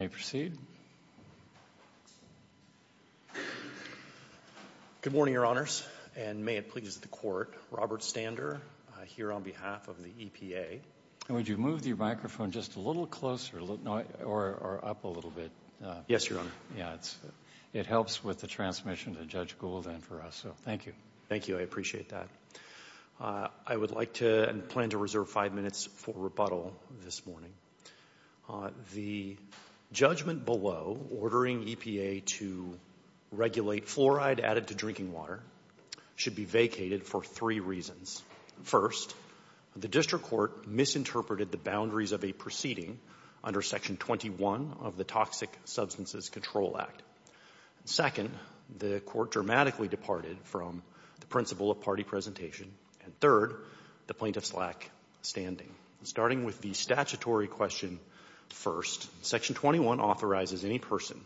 Good morning, Your Honors, and may it please the Court, Robert Stander here on behalf of the EPA. And would you move your microphone just a little closer or up a little bit? Yes, Your Honor. It helps with the transmission to Judge Gould and for us, so thank you. Thank you, I appreciate that. I would like to and plan to reserve five minutes for rebuttal this morning. The judgment below ordering EPA to regulate fluoride added to drinking water should be vacated for three reasons. First, the District Court misinterpreted the boundaries of a proceeding under Section 21 of the Toxic Substances Control Act. Second, the Court dramatically departed from the principle of party presentation. And third, the plaintiffs lack standing. Starting with the statutory question first, Section 21 authorizes any person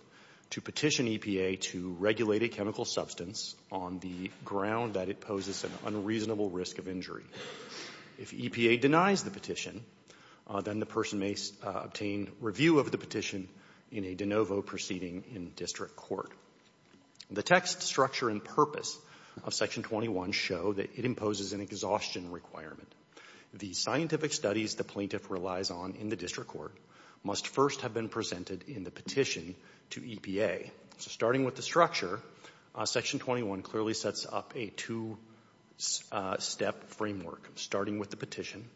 to petition EPA to regulate a chemical substance on the ground that it poses an unreasonable risk of injury. If EPA denies the petition, then the person may obtain review of the petition in a de novo proceeding in District Court. The text, structure, and purpose of Section 21 show that it imposes an exhaustion requirement. The scientific studies the plaintiff relies on in the District Court must first have been presented in the petition to EPA. So starting with the structure, Section 21 clearly sets up a two-step framework. Starting with the petition,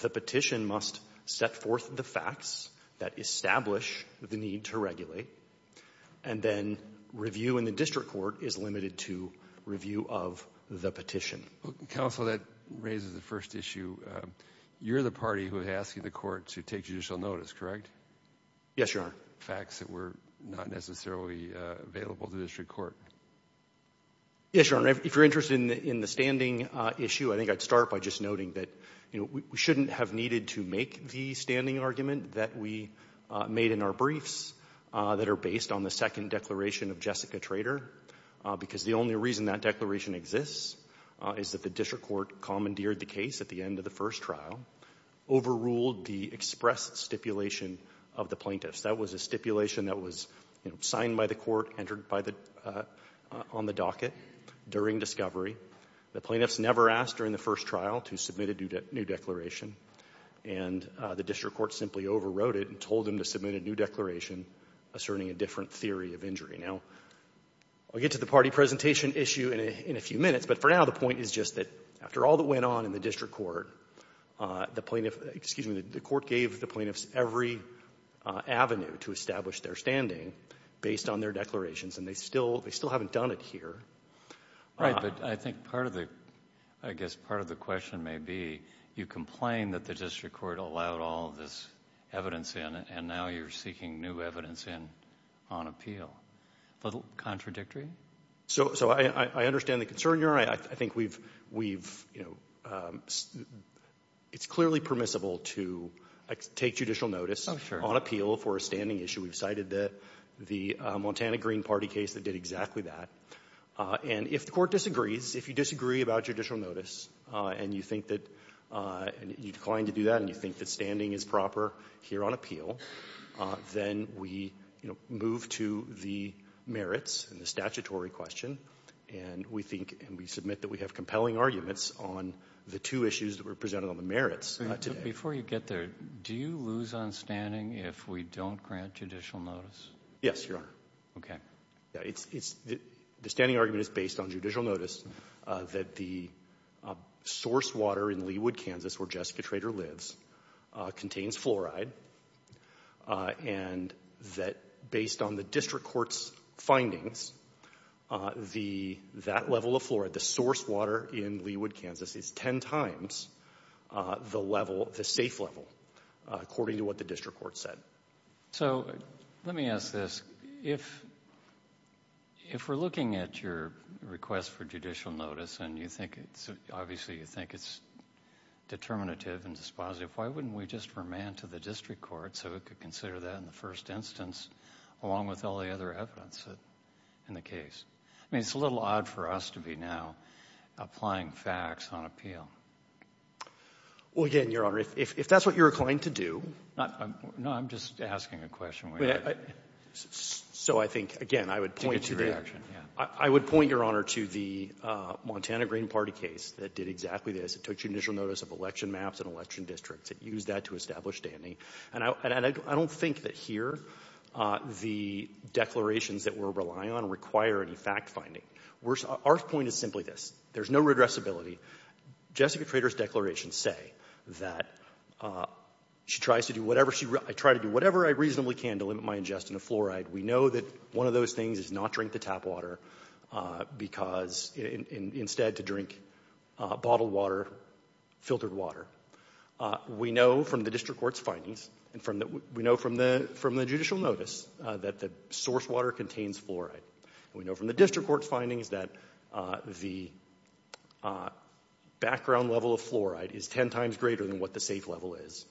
the petition must set forth the facts that establish the need to regulate, and then review in the District Court is limited to review of the petition. Well, Counsel, that raises the first issue. You're the party who is asking the Court to take judicial notice, correct? Yes, Your Honor. Facts that were not necessarily available to the District Court. Yes, Your Honor. If you're interested in the standing issue, I think I'd start by just noting that, you know, we shouldn't have needed to make the standing argument that we made in our briefs that are based on the second declaration of Jessica Trader because the only reason that declaration exists is that the District Court commandeered the case at the end of the first trial, overruled the express stipulation of the plaintiffs. That was a stipulation that was, you know, signed by the Court, entered on the docket during discovery. The plaintiffs never asked during the first trial to submit a new declaration, and the District Court simply overrode it and told them to submit a new declaration asserting a different theory of injury. Now, I'll get to the party presentation issue in a few minutes, but for now the point is just that after all that went on in the District Court, the plaintiff, excuse me, the Court gave the plaintiffs every avenue to establish their standing based on their declarations, and they still haven't done it here. Right, but I think part of the, I guess part of the question may be, you complain that the District Court allowed all of this evidence in, and now you're seeking new evidence in on appeal. A little contradictory? So I understand the concern here. I think we've, you know, it's clearly permissible to take judicial notice on appeal for a standing issue. We've cited the Montana Green Party case that did exactly that. And if the Court disagrees, if you disagree about judicial notice, and you think that you declined to do that and you think that standing is proper here on appeal, then we move to the merits and the statutory question, and we think and we submit that we have compelling arguments on the two issues that were presented on the merits today. Before you get there, do you lose on standing if we don't grant judicial notice? Yes, Your Honor. Okay. The standing argument is based on judicial notice that the source water in Leawood, Kansas, where Jessica Trader lives, contains fluoride, and that based on the District Court's findings, that level of fluoride, the source water in Leawood, Kansas, is ten times the level, the safe level, according to what the District Court said. So let me ask this. If we're looking at your request for judicial notice and you think it's, obviously you think it's determinative and dispositive, why wouldn't we just remand to the District Court so it could consider that in the first instance, along with all the other evidence in the case? I mean, it's a little odd for us to be now applying facts on appeal. Well, again, Your Honor, if that's what you're going to do. No, I'm just asking a question. So I think, again, I would point to the – Take a reaction, yeah. I would point, Your Honor, to the Montana Green Party case that did exactly this. It took judicial notice of election maps and election districts. It used that to establish standing. And I don't think that here the declarations that we're relying on require any fact-finding. Our point is simply this. There's no redressability. Jessica Trader's declarations say that she tries to do whatever she – I try to do whatever I reasonably can to limit my ingestion of fluoride. We know that one of those things is not drink the tap water because – instead to drink bottled water, filtered water. We know from the district court's findings and from the – we know from the judicial notice that the source water contains fluoride. And we know from the district court's findings that the background level of fluoride is ten times greater than what the safe level is.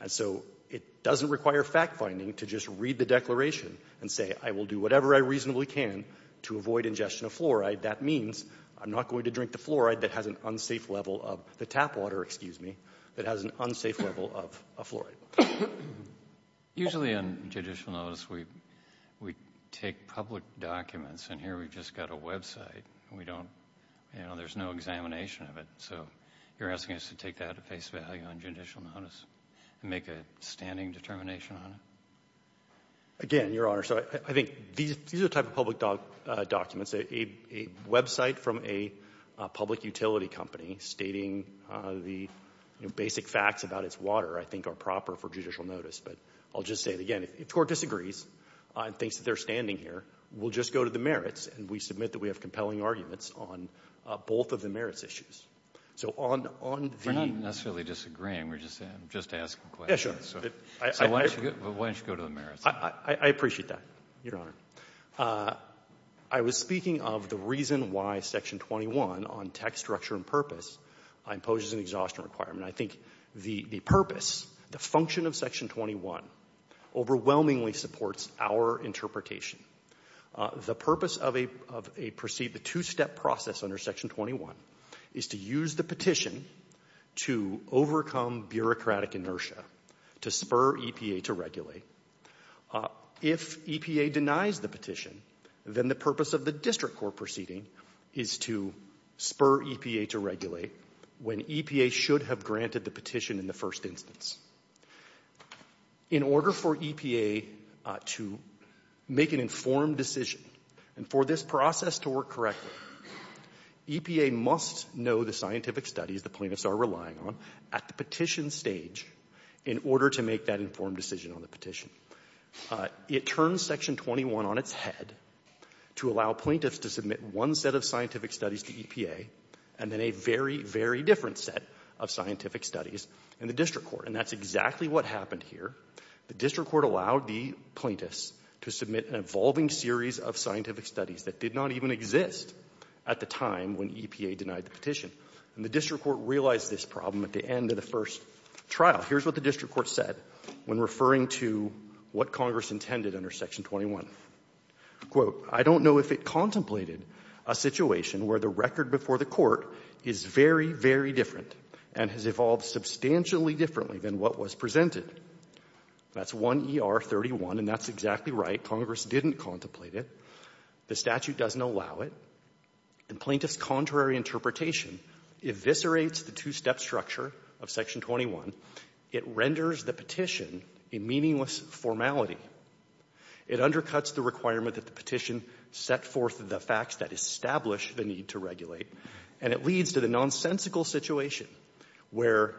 And so it doesn't require fact-finding to just read the declaration and say, I will do whatever I reasonably can to avoid ingestion of fluoride. That means I'm not going to drink the fluoride that has an unsafe level of the tap water, excuse me, that has an unsafe level of a fluoride. Usually on judicial notice we take public documents. And here we've just got a website. We don't – there's no examination of it. So you're asking us to take that at face value on judicial notice and make a standing determination on it? Again, Your Honor, so I think these are the type of public documents. A website from a public utility company stating the basic facts about its water I think are proper for judicial notice. But I'll just say it again. If the court disagrees and thinks that they're standing here, we'll just go to the merits and we submit that we have compelling arguments on both of the merits issues. So on the – We're not necessarily disagreeing. We're just asking questions. So why don't you go to the merits? I appreciate that, Your Honor. I was speaking of the reason why Section 21 on tax structure and purpose imposes an exhaustion requirement. I think the purpose, the function of Section 21 overwhelmingly supports our interpretation. The purpose of a – the two-step process under Section 21 is to use the petition to overcome bureaucratic inertia to spur EPA to regulate. If EPA denies the petition, then the purpose of the district court proceeding is to spur EPA to regulate when EPA should have granted the petition in the first instance. In order for EPA to make an informed decision and for this process to work correctly, EPA must know the scientific studies the plaintiffs are relying on at the petition stage in order to make that informed decision on the petition. It turns Section 21 on its head to allow plaintiffs to submit one set of scientific studies to EPA and then a very, very different set of scientific studies in the district court, and that's exactly what happened here. The district court allowed the plaintiffs to submit an evolving series of scientific studies that did not even exist at the time when EPA denied the petition. And the district court realized this problem at the end of the first trial. Now, here's what the district court said when referring to what Congress intended under Section 21. Quote, I don't know if it contemplated a situation where the record before the court is very, very different and has evolved substantially differently than what was presented. That's 1ER31, and that's exactly right. Congress didn't contemplate it. The statute doesn't allow it. And plaintiffs' contrary interpretation eviscerates the two-step structure of Section 21. It renders the petition a meaningless formality. It undercuts the requirement that the petition set forth the facts that establish the need to regulate, and it leads to the nonsensical situation where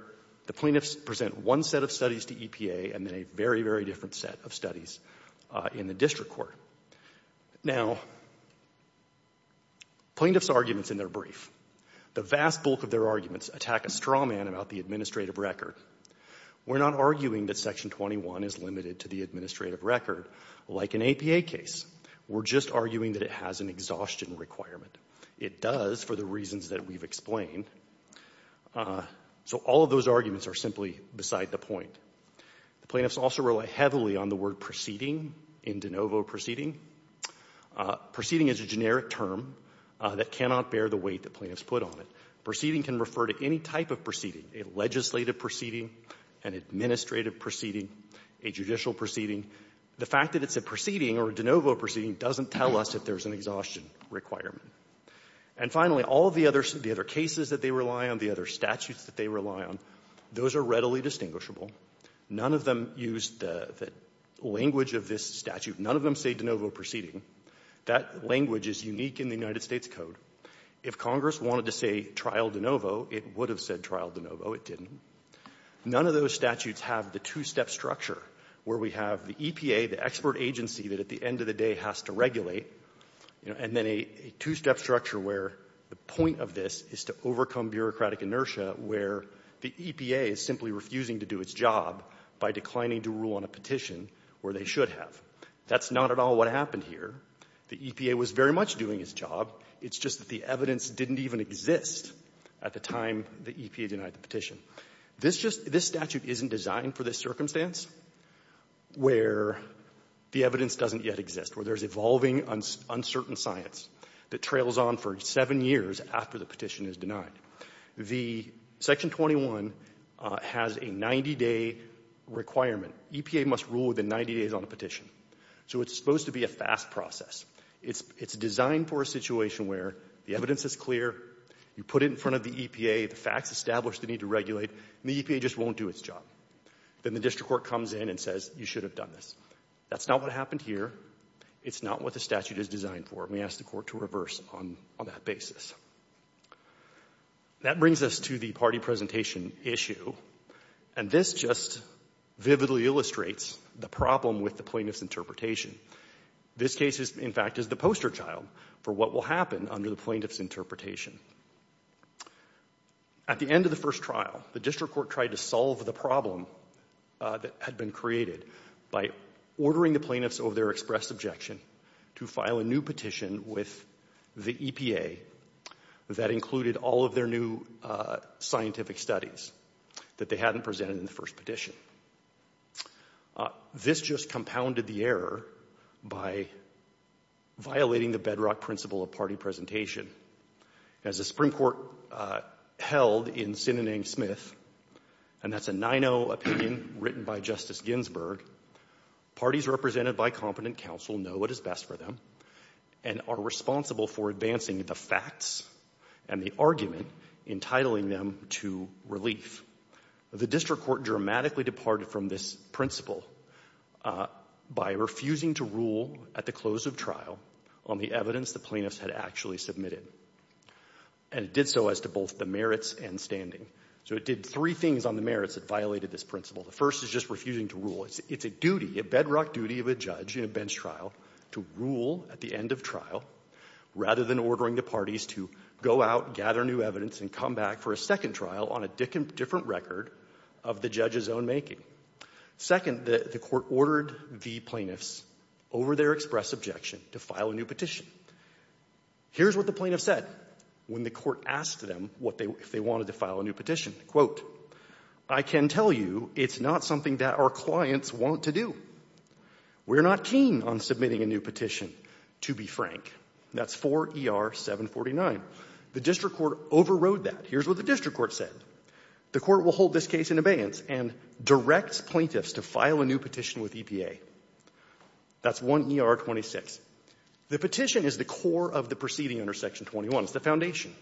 the plaintiffs present one set of studies to EPA and then a very, very different set of studies in the district court. Now, plaintiffs' arguments in their brief, the vast bulk of their arguments attack a straw man about the administrative record. We're not arguing that Section 21 is limited to the administrative record like an APA case. We're just arguing that it has an exhaustion requirement. It does for the reasons that we've explained. So all of those arguments are simply beside the point. The plaintiffs also rely heavily on the word proceeding in de novo proceeding. Proceeding is a generic term that cannot bear the weight that plaintiffs put on it. Proceeding can refer to any type of proceeding, a legislative proceeding, an administrative proceeding, a judicial proceeding. The fact that it's a proceeding or a de novo proceeding doesn't tell us that there's an exhaustion requirement. And finally, all the other cases that they rely on, the other statutes that they rely on, those are readily distinguishable. None of them use the language of this statute. None of them say de novo proceeding. That language is unique in the United States Code. If Congress wanted to say trial de novo, it would have said trial de novo. It didn't. None of those statutes have the two-step structure where we have the EPA, the expert agency that at the end of the day has to regulate, and then a two-step structure where the point of this is to overcome bureaucratic inertia where the EPA is simply refusing to do its job by declining to rule on a petition where they should have. That's not at all what happened here. The EPA was very much doing its job. It's just that the evidence didn't even exist at the time the EPA denied the petition. This just — this statute isn't designed for this circumstance where the evidence doesn't yet exist, where there's evolving uncertain science that trails on for seven years after the petition is denied. The Section 21 has a 90-day requirement. EPA must rule within 90 days on a petition. So it's supposed to be a fast process. It's designed for a situation where the evidence is clear, you put it in front of the EPA, the facts establish the need to regulate, and the EPA just won't do its job. Then the district court comes in and says, you should have done this. That's not what happened here. It's not what the statute is designed for. And we ask the court to reverse on that basis. That brings us to the party presentation issue. And this just vividly illustrates the problem with the plaintiff's interpretation. This case is, in fact, is the poster child for what will happen under the plaintiff's interpretation. At the end of the first trial, the district court tried to solve the problem that had been created by ordering the plaintiffs over their express objection to file a new petition with the EPA that included all of their new scientific studies that they This just compounded the error by violating the bedrock principle of party presentation. As the Supreme Court held in Sinanang-Smith, and that's a 9-0 opinion written by Justice Ginsburg, parties represented by competent counsel know what is best for them and are responsible for advancing the facts and the argument entitling them to relief. The district court dramatically departed from this principle by refusing to rule at the close of trial on the evidence the plaintiffs had actually submitted. And it did so as to both the merits and standing. So it did three things on the merits that violated this principle. The first is just refusing to rule. It's a duty, a bedrock duty of a judge in a bench trial to rule at the end of trial rather than ordering the parties to go out, gather new evidence, and come back for a second trial on a different record of the judge's own making. Second, the court ordered the plaintiffs over their express objection to file a new petition. Here's what the plaintiffs said when the court asked them if they wanted to file a new petition. Quote, I can tell you it's not something that our clients want to do. We're not keen on submitting a new petition, to be frank. That's 4ER749. The district court overrode that. Here's what the district court said. The court will hold this case in abeyance and directs plaintiffs to file a new petition with EPA. That's 1ER26. The petition is the core of the proceeding under Section 21. It's the foundation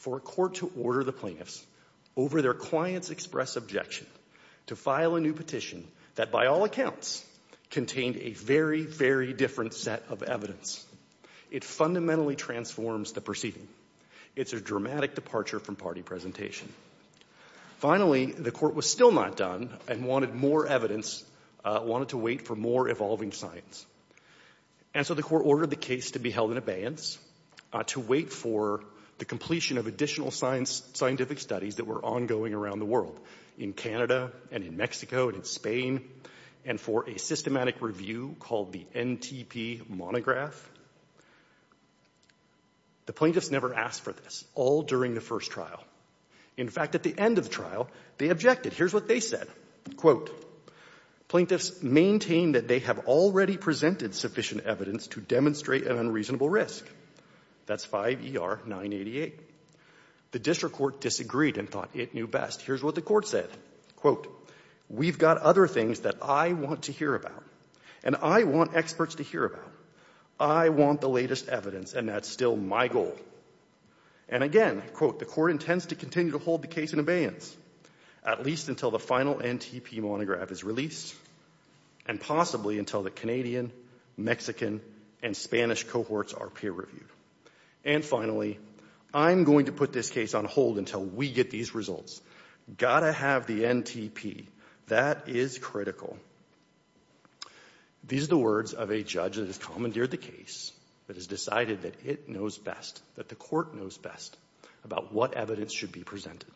for a court to order the plaintiffs over their clients' express objection to file a new petition that by all accounts contained a very, very different set of evidence. It fundamentally transforms the proceeding. It's a dramatic departure from party presentation. Finally, the court was still not done and wanted more evidence, wanted to wait for more evolving science. And so the court ordered the case to be held in abeyance to wait for the completion of additional scientific studies that were ongoing around the world, in Canada and in Mexico and in Spain, and for a systematic review called the NTP monograph. The plaintiffs never asked for this, all during the first trial. In fact, at the end of the trial, they objected. Here's what they said. Quote, plaintiffs maintain that they have already presented sufficient evidence to demonstrate an unreasonable risk. That's 5ER988. The district court disagreed and thought it knew best. Here's what the court said. Quote, we've got other things that I want to hear about, and I want experts to hear about. I want the latest evidence, and that's still my goal. And again, quote, the court intends to continue to hold the case in abeyance, at least until the final NTP monograph is released, and possibly until the Canadian, Mexican, and Spanish cohorts are peer reviewed. And finally, I'm going to put this case on hold until we get these results. Got to have the evidence. That is critical. These are the words of a judge that has commandeered the case, that has decided that it knows best, that the court knows best about what evidence should be presented.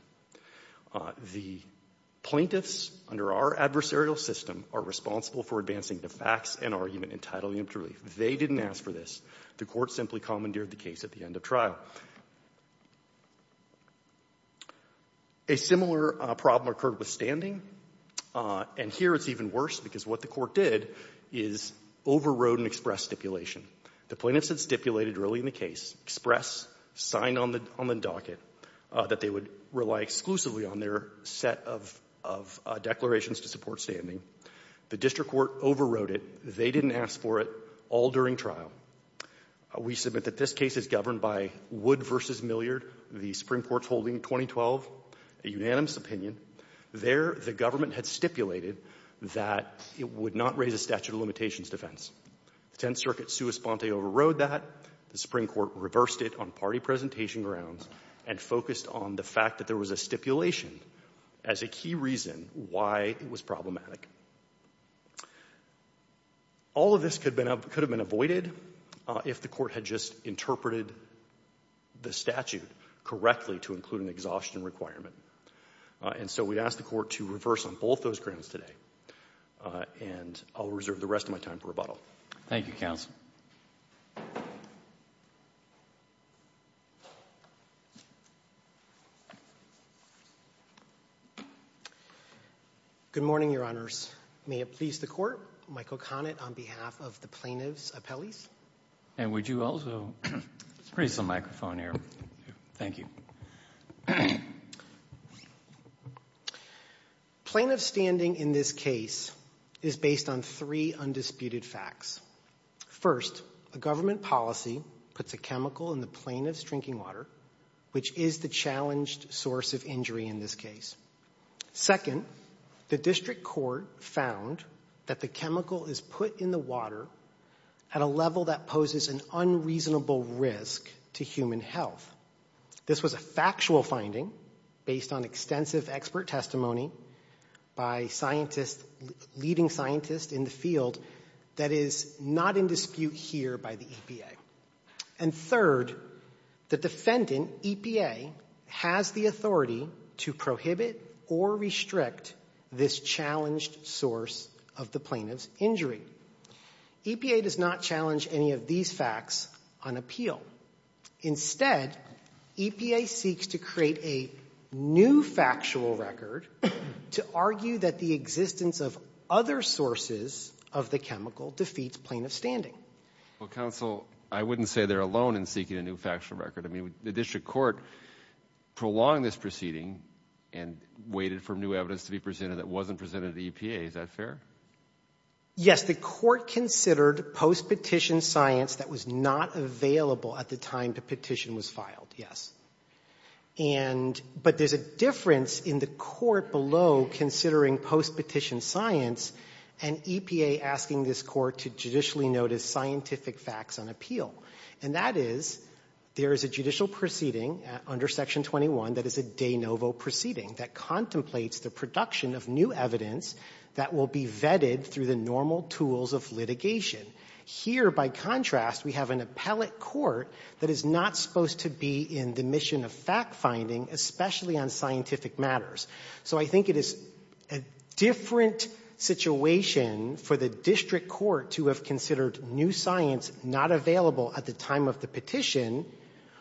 The plaintiffs, under our adversarial system, are responsible for advancing the facts and argument entitled to relief. They didn't ask for this. The court simply commandeered the case at the end of trial. A similar problem occurred with standing. And here it's even worse, because what the court did is overrode an express stipulation. The plaintiffs had stipulated early in the case, express, signed on the docket, that they would rely exclusively on their set of declarations to support standing. The district court overrode it. They didn't ask for it all during trial. We submit that this case is governed by Wood v. Milliard, the Supreme Court's holding in 2012, a unanimous opinion. There, the government had stipulated that it would not raise a statute of limitations defense. The Tenth Circuit sua sponte overrode that. The Supreme Court reversed it on party presentation grounds and focused on the fact that there was a stipulation as a key reason why it was problematic. All of this could have been avoided if the court had just interpreted the statute correctly to include an exhaustion requirement. And so we ask the court to reverse on both those grounds today. And I'll reserve the rest of my time for rebuttal. Thank you, counsel. Good morning, Your Honors. May it please the court, Michael Conant on behalf of the plaintiffs' appellees. And would you also raise the microphone here. Thank you. Plaintiff's standing in this case is based on three undisputed facts. First, the government policy puts a chemical in the plaintiff's drinking water, which is the challenged source of injury in this case. Second, the district court found that the chemical is put in the water at a level that poses an unreasonable risk to human health. This was a factual finding based on extensive expert testimony by leading scientists in the field that is not in dispute here by the EPA. And third, the defendant, EPA, has the authority to prohibit or restrict this challenged source of the plaintiff's injury. EPA does not challenge any of these facts on appeal. Instead, EPA seeks to create a new factual record to argue that the existence of other sources of the chemical defeats plaintiff's standing. Well, counsel, I wouldn't say they're alone in seeking a new factual record. I mean, the district court prolonged this proceeding and waited for new evidence to be presented that wasn't presented to EPA. Is that fair? Yes. The court considered post-petition science that was not available at the time the petition was filed, yes. And but there's a difference in the court below considering post-petition science and EPA asking this court to judicially notice scientific facts on appeal. And that is, there is a judicial proceeding under Section 21 that is a de novo proceeding, that contemplates the production of new evidence that will be vetted through the normal tools of litigation. Here, by contrast, we have an appellate court that is not supposed to be in the mission of fact-finding, especially on scientific matters. So I think it is a different situation for the district court to have considered new science not available at the time of the petition,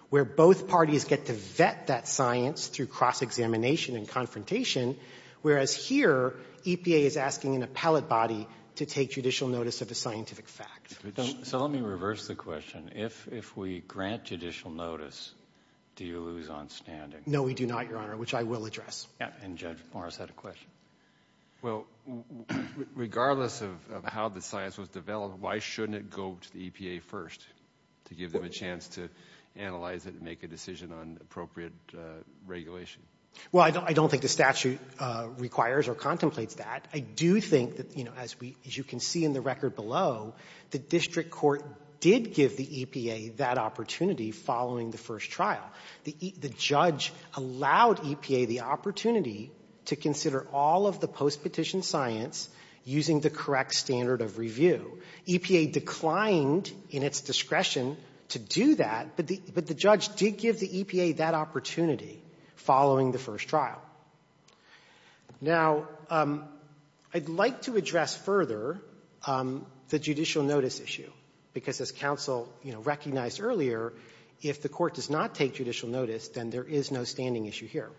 where both parties get to vet that science through cross-examination and confrontation, whereas here, EPA is asking an appellate body to take judicial notice of a scientific fact. So let me reverse the question. If we grant judicial notice, do you lose on standing? No, we do not, Your Honor, which I will address. And Judge Morris had a question. Well, regardless of how the science was developed, why shouldn't it go to the EPA first to give them a chance to analyze it and make a decision on appropriate regulation? Well, I don't think the statute requires or contemplates that. I do think that, as you can see in the record below, the district court did give the EPA that opportunity following the first trial. The judge allowed EPA the opportunity to consider all of the post-petition science using the correct standard of review. EPA declined in its discretion to do that, but the judge did give the EPA that opportunity following the first trial. Now, I'd like to address further the judicial notice issue, because as counsel recognized earlier, if the court does not take judicial notice, then there is no standing issue here.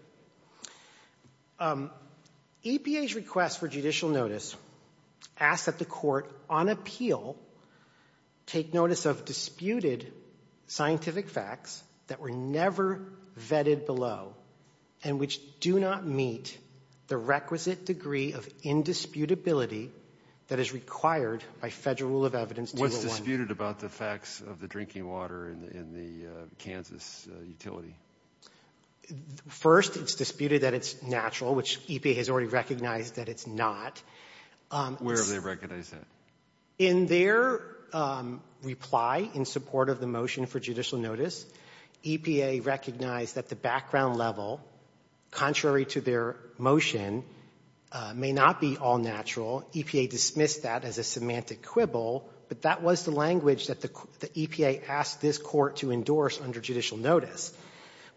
EPA's request for judicial notice asks that the court, on appeal, take notice of disputed scientific facts that were never vetted below and which do not meet the requisite degree of indisputability that is required by Federal Rule of Evidence 201. What's disputed about the facts of the drinking water in the Kansas utility? First, it's disputed that it's natural, which EPA has already recognized that it's not. Where have they recognized that? In their reply in support of the motion for judicial notice, EPA recognized that the background level, contrary to their motion, may not be all natural. EPA dismissed that as a semantic quibble, but that was the language that the EPA asked this Court to endorse under judicial notice.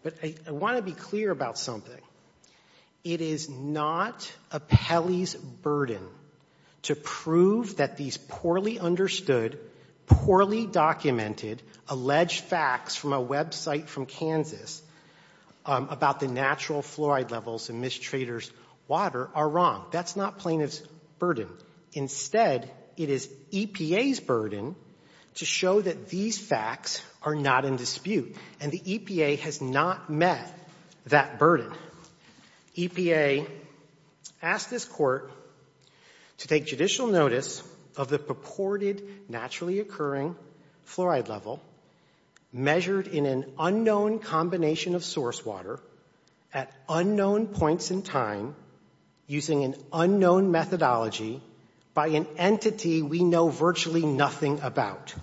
But I want to be clear about something. It is not appellee's burden to prove that these poorly understood, poorly documented, alleged facts from a website from Kansas about the natural fluoride levels in Miss Trader's water are wrong. That's not plaintiff's burden. Instead, it is EPA's burden to show that these facts are not in dispute. And the EPA has not met that burden. EPA asked this Court to take judicial notice of the purported naturally occurring fluoride level measured in an unknown combination of source water at unknown points in time using an unknown methodology by an entity we know virtually nothing about.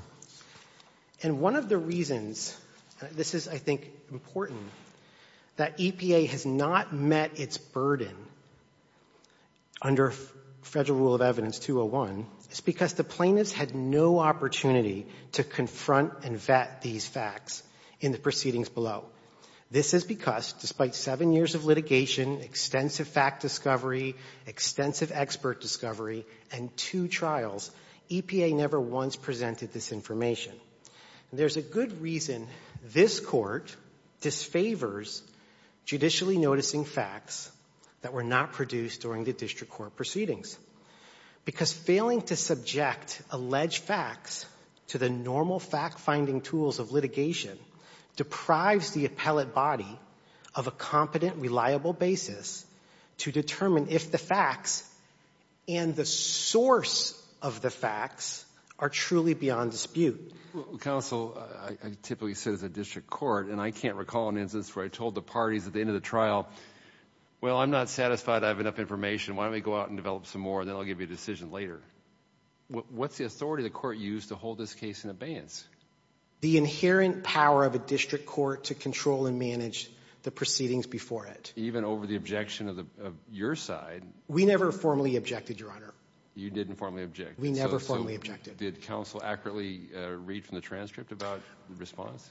And one of the reasons this is, I think, important, that EPA has not met its burden under Federal Rule of Evidence 201 is because the plaintiffs had no opportunity to confront and vet these facts in the proceedings below. This is because despite seven years of litigation, extensive fact discovery, extensive expert discovery, and two trials, EPA never once presented this information. And there's a good reason this Court disfavors judicially noticing facts that were not produced during the district court proceedings. Because failing to subject alleged facts to the normal fact-finding tools of litigation deprives the appellate body of a competent, reliable basis to determine if the facts and the source of the facts are truly beyond dispute. Counsel, I typically sit as a district court, and I can't recall an instance where I told the parties at the end of the trial, well, I'm not satisfied I have enough information. Why don't we go out and develop some more, and then I'll give you a decision later. What's the authority the Court used to hold this case in abeyance? The inherent power of a district court to control and manage the proceedings before it. Even over the objection of your side? We never formally objected, Your Honor. You didn't formally object. We never formally objected. So did counsel accurately read from the transcript about the response?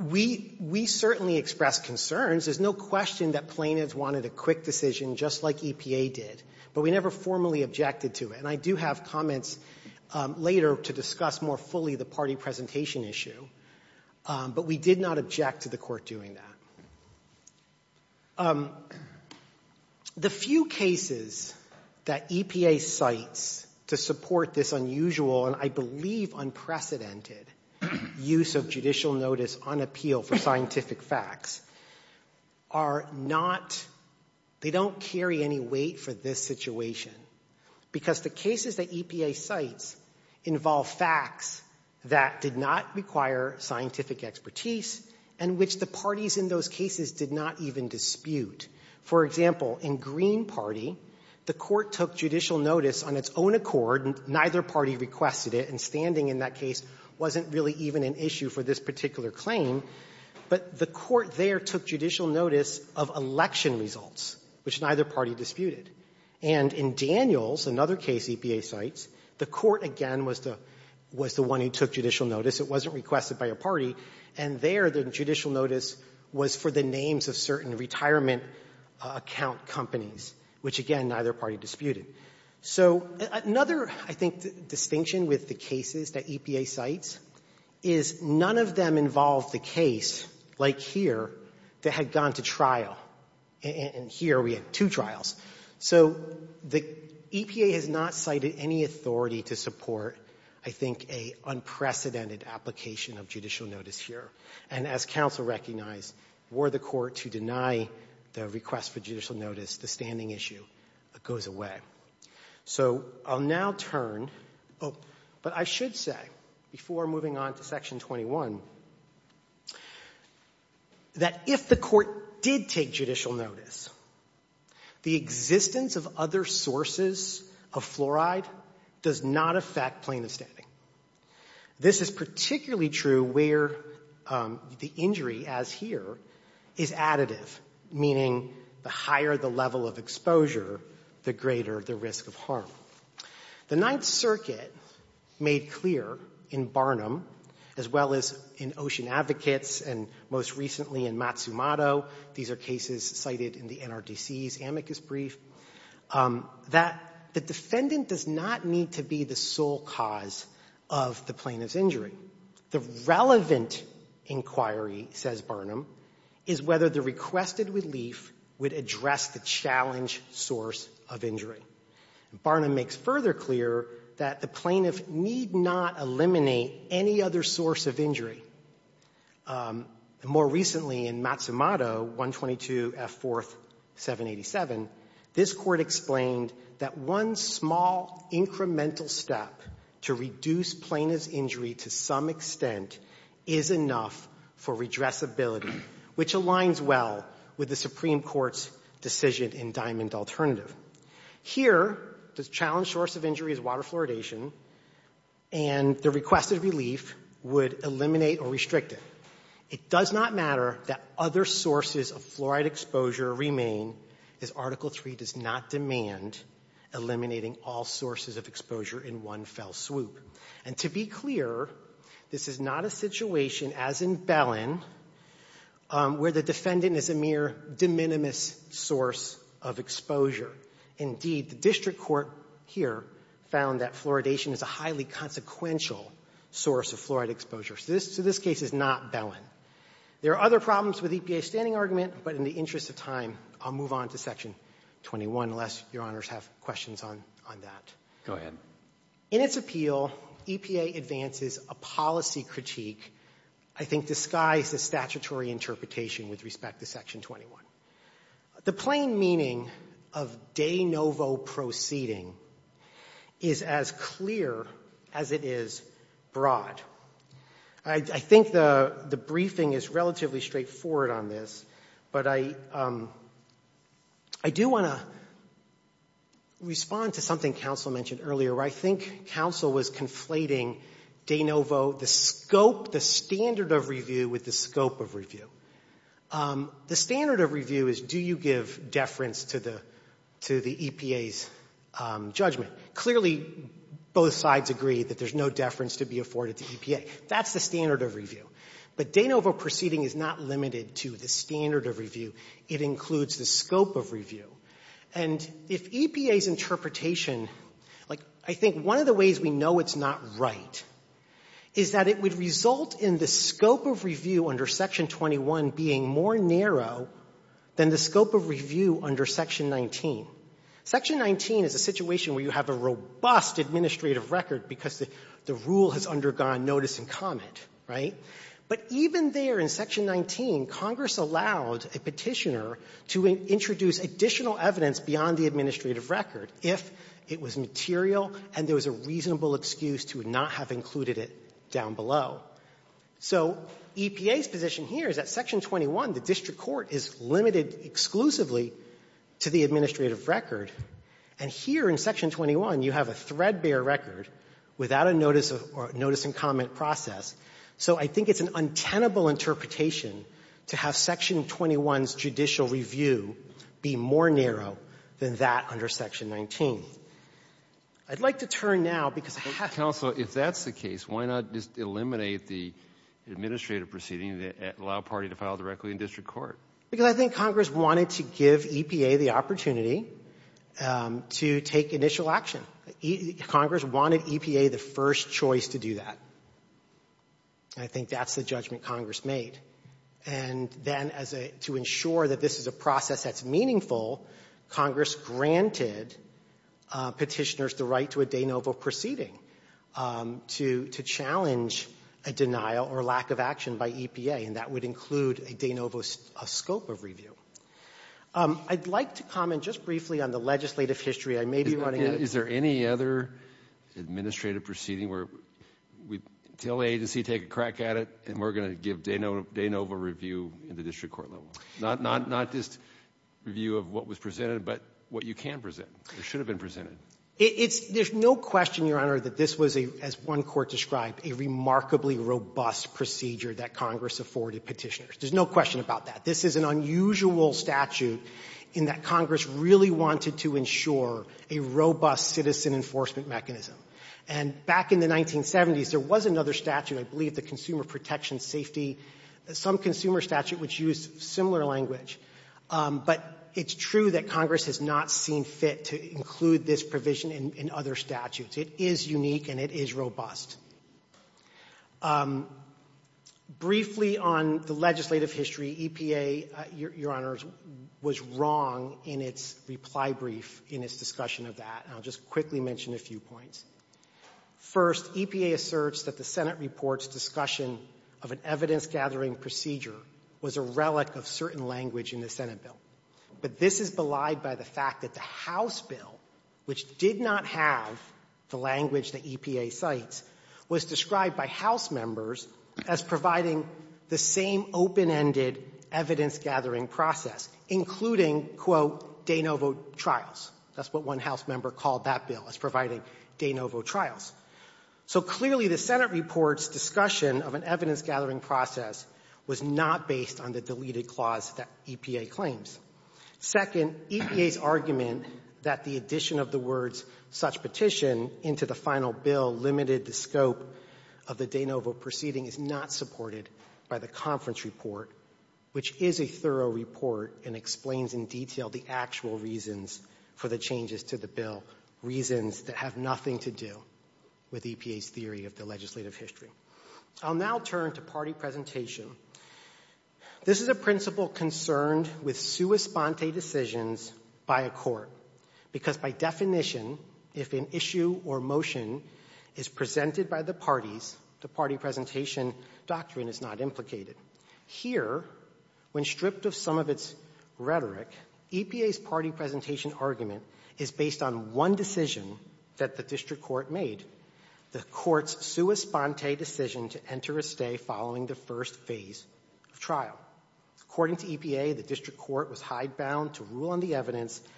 We certainly expressed concerns. There's no question that plaintiffs wanted a quick decision just like EPA did. But we never formally objected to it. And I do have comments later to discuss more fully the party presentation issue. But we did not object to the Court doing that. The few cases that EPA cites to support this unusual, and I believe unprecedented, use of judicial notice on appeal for scientific facts are not, they don't carry any weight for this situation. Because the cases that EPA cites involve facts that did not require scientific expertise and which the parties in those cases did not even dispute. For example, in Green Party, the Court took judicial notice on its own accord. Neither party requested it. And standing in that case wasn't really even an issue for this particular claim. But the Court there took judicial notice of election results, which neither party disputed. And in Daniels, another case EPA cites, the Court again was the one who took judicial notice. It wasn't requested by a party. And there, the judicial notice was for the names of certain retirement account companies, which, again, neither party disputed. So another, I think, distinction with the cases that EPA cites is none of them involve the case, like here, that had gone to trial. And here we had two trials. So the EPA has not cited any authority to support, I think, an unprecedented application of judicial notice here. And as counsel recognized, were the Court to deny the request for judicial notice, the standing issue goes away. So I'll now turn, but I should say, before moving on to Section 21, that if the Court did take judicial notice, the existence of other sources of fluoride does not affect plaintiff's standing. This is particularly true where the injury, as here, is additive, meaning the higher the level of exposure, the greater the risk of harm. The Ninth Circuit made clear in Barnum, as well as in Ocean Advocates, and most recently in Matsumoto, these are cases cited in the NRDC's amicus brief, that the defendant does not need to be the sole cause of the plaintiff's injury. The relevant inquiry, says Barnum, is whether the requested relief would address the challenge source of injury. Barnum makes further clear that the plaintiff need not eliminate any other source of injury. More recently in Matsumoto, 122 F. 4th. 787, this Court explained that one small incremental step to reduce plaintiff's injury to some extent is enough for redressability, which aligns well with the Supreme Court's decision in Diamond Alternative. Here, the challenge source of injury is water fluoridation, and the requested relief would eliminate or restrict it. It does not matter that other sources of fluoride exposure remain, as Article III does not demand eliminating all sources of exposure in one fell swoop. And to be clear, this is not a situation, as in Bellin, where the defendant is a mere de minimis source of exposure. Indeed, the district court here found that fluoridation is a highly consequential source of fluoride exposure. So this case is not Bellin. There are other problems with EPA's standing argument, but in the interest of time, I'll move on to Section 21, unless Your Honors have questions on that. Go ahead. In its appeal, EPA advances a policy critique, I think disguised as statutory interpretation with respect to Section 21. The plain meaning of de novo proceeding is as clear as it is broad. I think the briefing is relatively straightforward on this, but I do want to respond to something counsel mentioned earlier, where I think counsel was conflating de novo, the scope, the standard of review with the scope of review. The standard of review is, do you give deference to the EPA's judgment? Clearly, both sides agree that there's no deference to be afforded to EPA. That's the standard of review. But de novo proceeding is not limited to the standard of review. It includes the scope of review. And if EPA's interpretation, like, I think one of the ways we know it's not right is that it would result in the scope of review under Section 21 being more narrow than the scope of review under Section 19. Section 19 is a situation where you have a robust administrative record, because the rule has undergone notice and comment, right? But even there in Section 19, Congress allowed a petitioner to introduce additional evidence beyond the administrative record, if it was material and there was a reasonable excuse to not have included it down below. So EPA's position here is that Section 21, the district court, is limited exclusively to the administrative record, and here in Section 21, you have a threadbare record without a notice of or notice and comment process. So I think it's an untenable interpretation to have Section 21's judicial review be more narrow than that under Section 19. I'd like to turn now, because I have... Counsel, if that's the case, why not just eliminate the administrative proceeding and allow a party to file directly in district court? Because I think Congress wanted to give EPA the opportunity to take initial action. Congress wanted EPA the first choice to do that. And I think that's the judgment Congress made. And then to ensure that this is a process that's meaningful, Congress granted petitioners the right to a de novo proceeding to challenge a denial or lack of action by EPA, and that would include a de novo scope of review. I'd like to comment just briefly on the legislative history. I may be running... Is there any other administrative proceeding where we tell the agency, take a crack at it, and we're going to give de novo review at the district court level? Not just review of what was presented, but what you can present or should have been presented. There's no question, Your Honor, that this was, as one court described, a remarkably robust procedure that Congress afforded petitioners. There's no question about that. This is an unusual statute in that Congress really wanted to ensure a robust citizen enforcement mechanism. And back in the 1970s, there was another statute, I believe the Consumer Protection Safety, some consumer statute which used similar language. But it's true that Congress has not seen fit to include this provision in other statutes. It is unique and it is robust. Briefly on the legislative history, EPA, Your Honor, was wrong in its reply brief, in its discussion of that. And I'll just quickly mention a few points. First, EPA asserts that the Senate report's discussion of an evidence-gathering procedure was a relic of certain language in the Senate bill. But this is belied by the fact that the House bill, which did not have the language that EPA cites, was described by House members as providing the same open-ended evidence-gathering process, including, quote, de novo trials. That's what one House member called that bill, as providing de novo trials. So clearly the Senate report's discussion of an evidence-gathering process was not based on the deleted clause that EPA claims. Second, EPA's argument that the addition of the words such petition into the final bill limited the scope of the de novo proceeding is not supported by the conference report, which is a thorough report and explains in detail the actual reasons for the changes to the bill, reasons that have nothing to do with EPA's theory of the legislative history. I'll now turn to party presentation. This is a principle concerned with sua sponte decisions by a court, because by definition, if an issue or motion is presented by the parties, the party presentation doctrine is not implicated. Here, when stripped of some of its rhetoric, EPA's party presentation argument is based on one decision that the district court made, the court's sua sponte decision to enter a stay following the first phase of trial. According to EPA, the district court was hidebound to rule on the evidence that the decision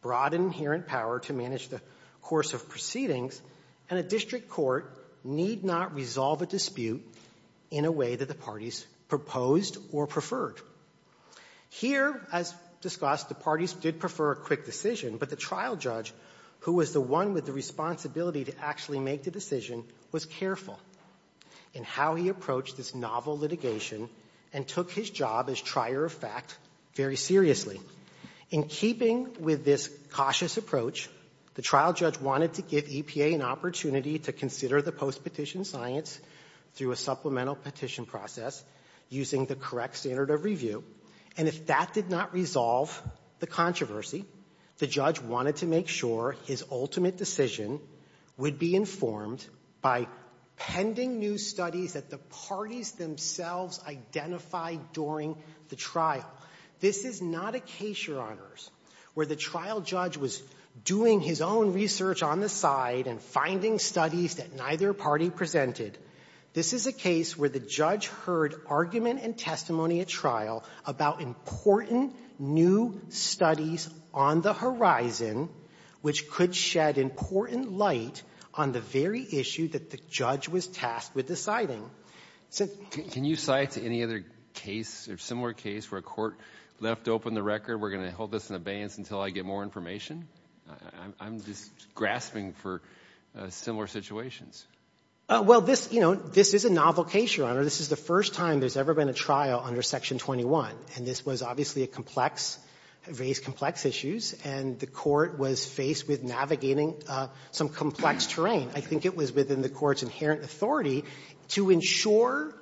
brought inherent power to manage the course of proceedings, and a district court need not resolve a dispute in a way that the parties proposed or preferred. Here, as discussed, the parties did prefer a quick decision, but the trial judge, who was the one with the responsibility to actually make the decision, was careful in how he approached this novel litigation and took his job as trier of fact very seriously. In keeping with this cautious approach, the trial judge wanted to give EPA an opportunity to consider the postpetition science through a supplemental petition process using the correct standard of review, and if that did not resolve the controversy, the judge wanted to make sure his ultimate decision would be informed by pending new studies that the parties themselves identified during the trial. This is not a case, Your Honors, where the trial judge was doing his own research on the side and finding studies that neither party presented. This is a case where the judge heard argument and testimony at trial about important new studies on the horizon which could shed important light on the very issue that the judge was tasked with deciding. Can you cite any other case or similar case where a court left open the record, we're going to hold this in abeyance until I get more information? I'm just grasping for similar situations. Well, this, you know, this is a novel case, Your Honor. This is the first time there's ever been a trial under Section 21, and this was obviously a complex, various complex issues, and the court was faced with navigating some complex terrain. I think it was within the court's inherent authority to ensure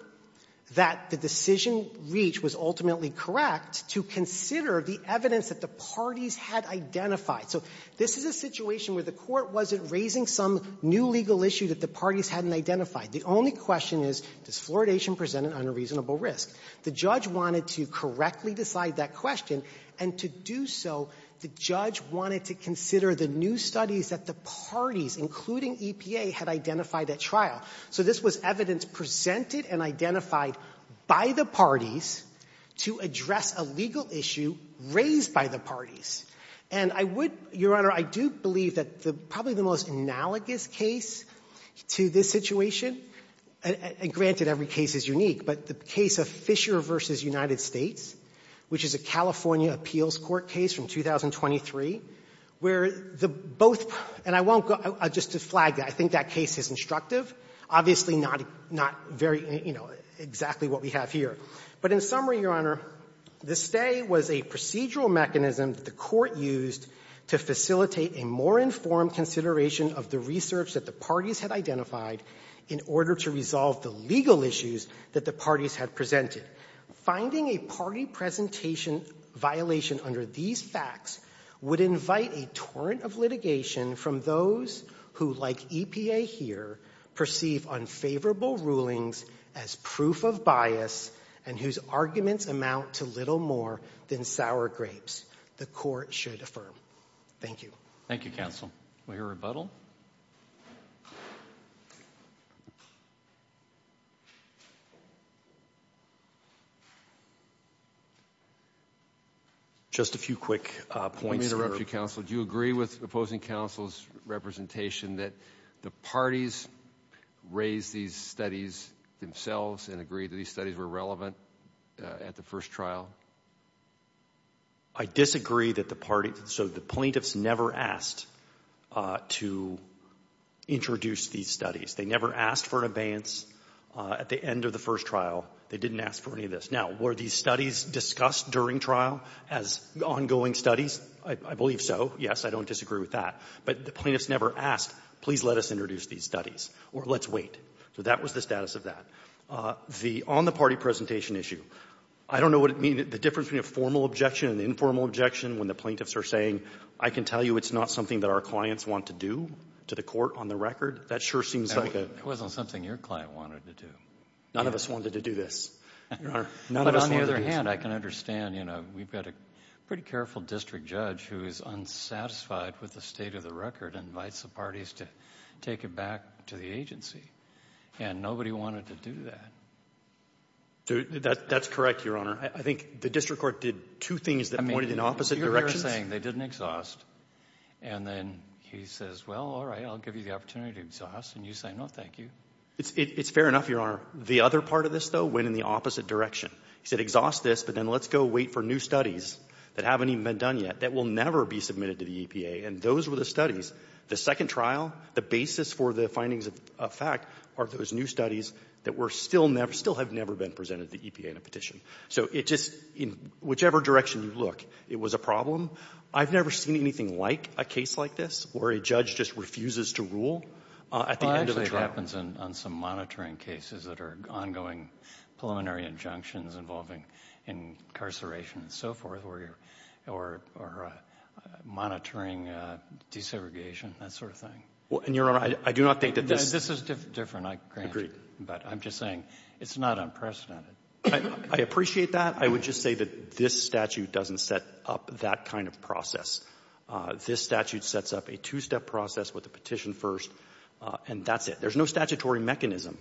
that the decision reach was ultimately correct to consider the evidence that the parties had identified. So this is a situation where the court wasn't raising some new legal issue that the parties hadn't identified. The only question is, does fluoridation present an unreasonable risk? The judge wanted to correctly decide that question, and to do so, the judge wanted to consider the new studies that the parties, including EPA, had identified at trial. So this was evidence presented and identified by the parties to address a legal issue raised by the parties. And I would, Your Honor, I do believe that probably the most analogous case to this situation, and granted every case is unique, but the case of Fisher v. United States, which is a California appeals court case from January of 2023, where the both, and I won't go, just to flag that, I think that case is instructive, obviously not, not very, you know, exactly what we have here. But in summary, Your Honor, the stay was a procedural mechanism that the court used to facilitate a more informed consideration of the research that the parties had identified in order to resolve the legal issues that the parties had presented. Finding a party presentation violation under these facts would invite a torrent of litigation from those who, like EPA here, perceive unfavorable rulings as proof of bias and whose arguments amount to little more than sour grapes. The court should affirm. Thank you. Thank you, counsel. We hear a rebuttal. Just a few quick points. Let me interrupt you, counsel. Do you agree with opposing counsel's representation that the parties raised these studies themselves and agreed that these studies were relevant at the first trial? I disagree that the parties, so the plaintiffs never asked to introduce these studies. They never asked for an abeyance at the end of the first trial. They didn't ask for any of this. Now, were these studies discussed during trial as ongoing studies? I believe so. Yes, I don't disagree with that. But the plaintiffs never asked, please let us introduce these studies or let's wait. So that was the status of that. The on-the-party presentation issue, I don't know what it means, the difference between a formal objection and informal objection when the plaintiffs are saying, I can tell you it's not something that our clients want to do to the court on the record. That sure seems like a... It wasn't something your client wanted to do. None of us wanted to do this, Your Honor. But on the other hand, I can understand, you know, we've got a pretty careful district judge who is unsatisfied with the state of the record and invites the parties to take it back to the agency. And nobody wanted to do that. That's correct, Your Honor. I think the district court did two things that pointed in opposite directions. You're saying they didn't exhaust. And then he says, well, all right, I'll give you the opportunity to exhaust. And you say, no, thank you. It's fair enough, Your Honor. The other part of this, though, went in the opposite direction. He said exhaust this, but then let's go wait for new studies that haven't even been done yet that will never be submitted to the EPA. And those were the studies. The second trial, the basis for the findings of fact are those new studies that were still never, still have never been presented to the EPA in a petition. So it just, in whichever direction you look, it was a problem. I've never seen anything like a case like this where a judge just refuses to rule at the end of the trial. Well, actually, it happens on some monitoring cases that are ongoing preliminary injunctions involving incarceration and so forth, or monitoring desegregation, that sort of thing. And, Your Honor, I do not think that this ---- This is different. I grant you. But I'm just saying it's not unprecedented. I appreciate that. I would just say that this statute doesn't set up that kind of process. This statute sets up a two-step process with the petition first, and that's it. There's no statutory mechanism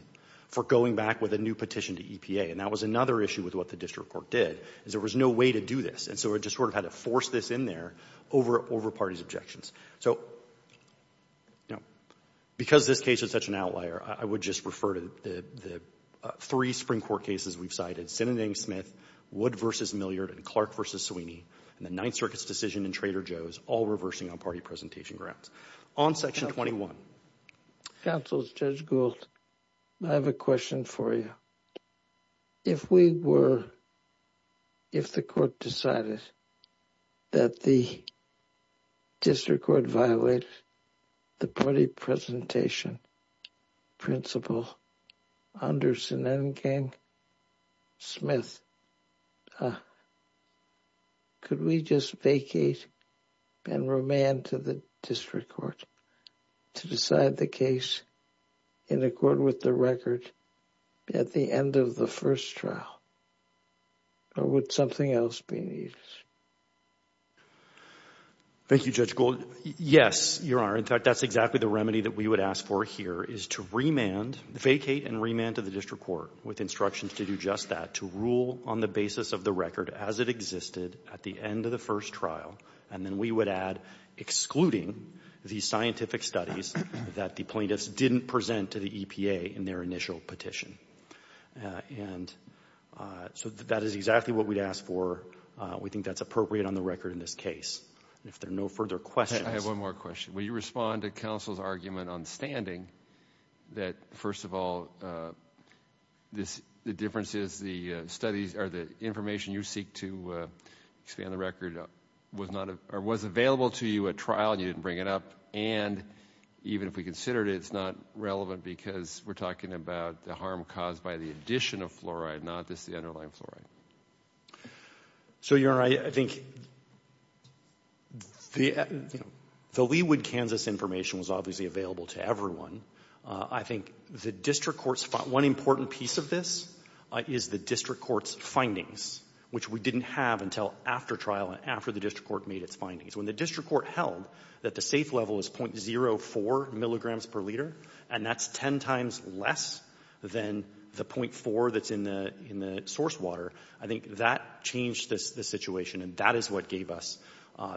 for going back with a new petition to EPA, and that was another issue with what the district court did, is there was no way to do this. And so it just sort of had to force this in there over parties' objections. So, you know, because this case is such an outlier, I would just refer to the three Supreme Court cases we've cited, Sinning Smith, Wood v. Milliard, and Clark v. Sweeney, and the Ninth Circuit's decision in Trader Joe's, all reversing on party presentation grounds. On Section 21. Counsel, Judge Gould, I have a question for you. If we were, if the court decided that the district court violated the party presentation principle under Sinning Smith, could we just vacate and remand to the district court to decide the case in accord with the record at the end of the first trial? Or would something else be needed? Thank you, Judge Gould. Yes, Your Honor. In fact, that's exactly the remedy that we would ask for here, is to remand, vacate and remand to the district court with instructions to do just that, to rule on the basis of the record as it existed at the end of the first trial. And then we would add excluding the scientific studies that the plaintiffs didn't present to the EPA in their initial petition. And so that is exactly what we'd ask for. We think that's appropriate on the record in this case. If there are no further questions. I have one more question. Will you respond to counsel's argument on standing that, first of all, the differences, the studies or the information you seek to expand the record was not, or was available to you at trial and you didn't bring it up? And even if we considered it, it's not relevant because we're talking about the harm caused by the addition of fluoride, not just the underlying fluoride. So, Your Honor, I think the, you know, the Leawood, Kansas information was obviously available to everyone. I think the district court's, one important piece of this is the district court's findings, which we didn't have until after trial and after the district court made its findings. When the district court held that the safe level was .04 milligrams per liter, and that's 10 times less than the .4 that's in the source water, I think that changed the situation and that is what gave us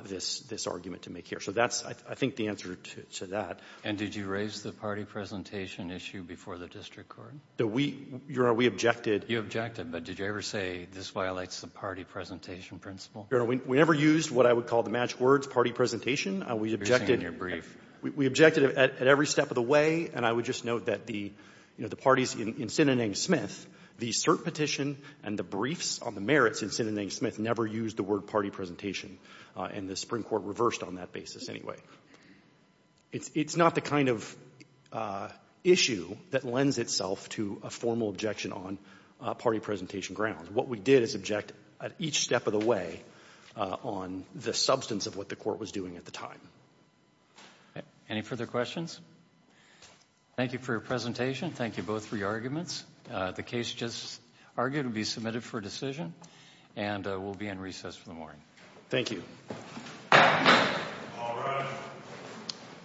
this argument to make here. So that's, I think, the answer to that. And did you raise the party presentation issue before the district court? We, Your Honor, we objected. You objected, but did you ever say this violates the party presentation principle? Your Honor, we never used what I would call the magic words, party presentation. We objected. You're saying you're brief. We objected at every step of the way, and I would just note that the parties in Sinanang Smith, the cert petition and the briefs on the merits in Sinanang Smith never used the word party presentation, and the Supreme Court reversed on that basis anyway. It's not the kind of issue that lends itself to a formal objection on party presentation grounds. What we did is object at each step of the way on the substance of what the court was doing at the time. Any further questions? Thank you for your presentation. Thank you both for your arguments. The case just argued will be submitted for decision and will be in recess for the morning. Thank you. All rise.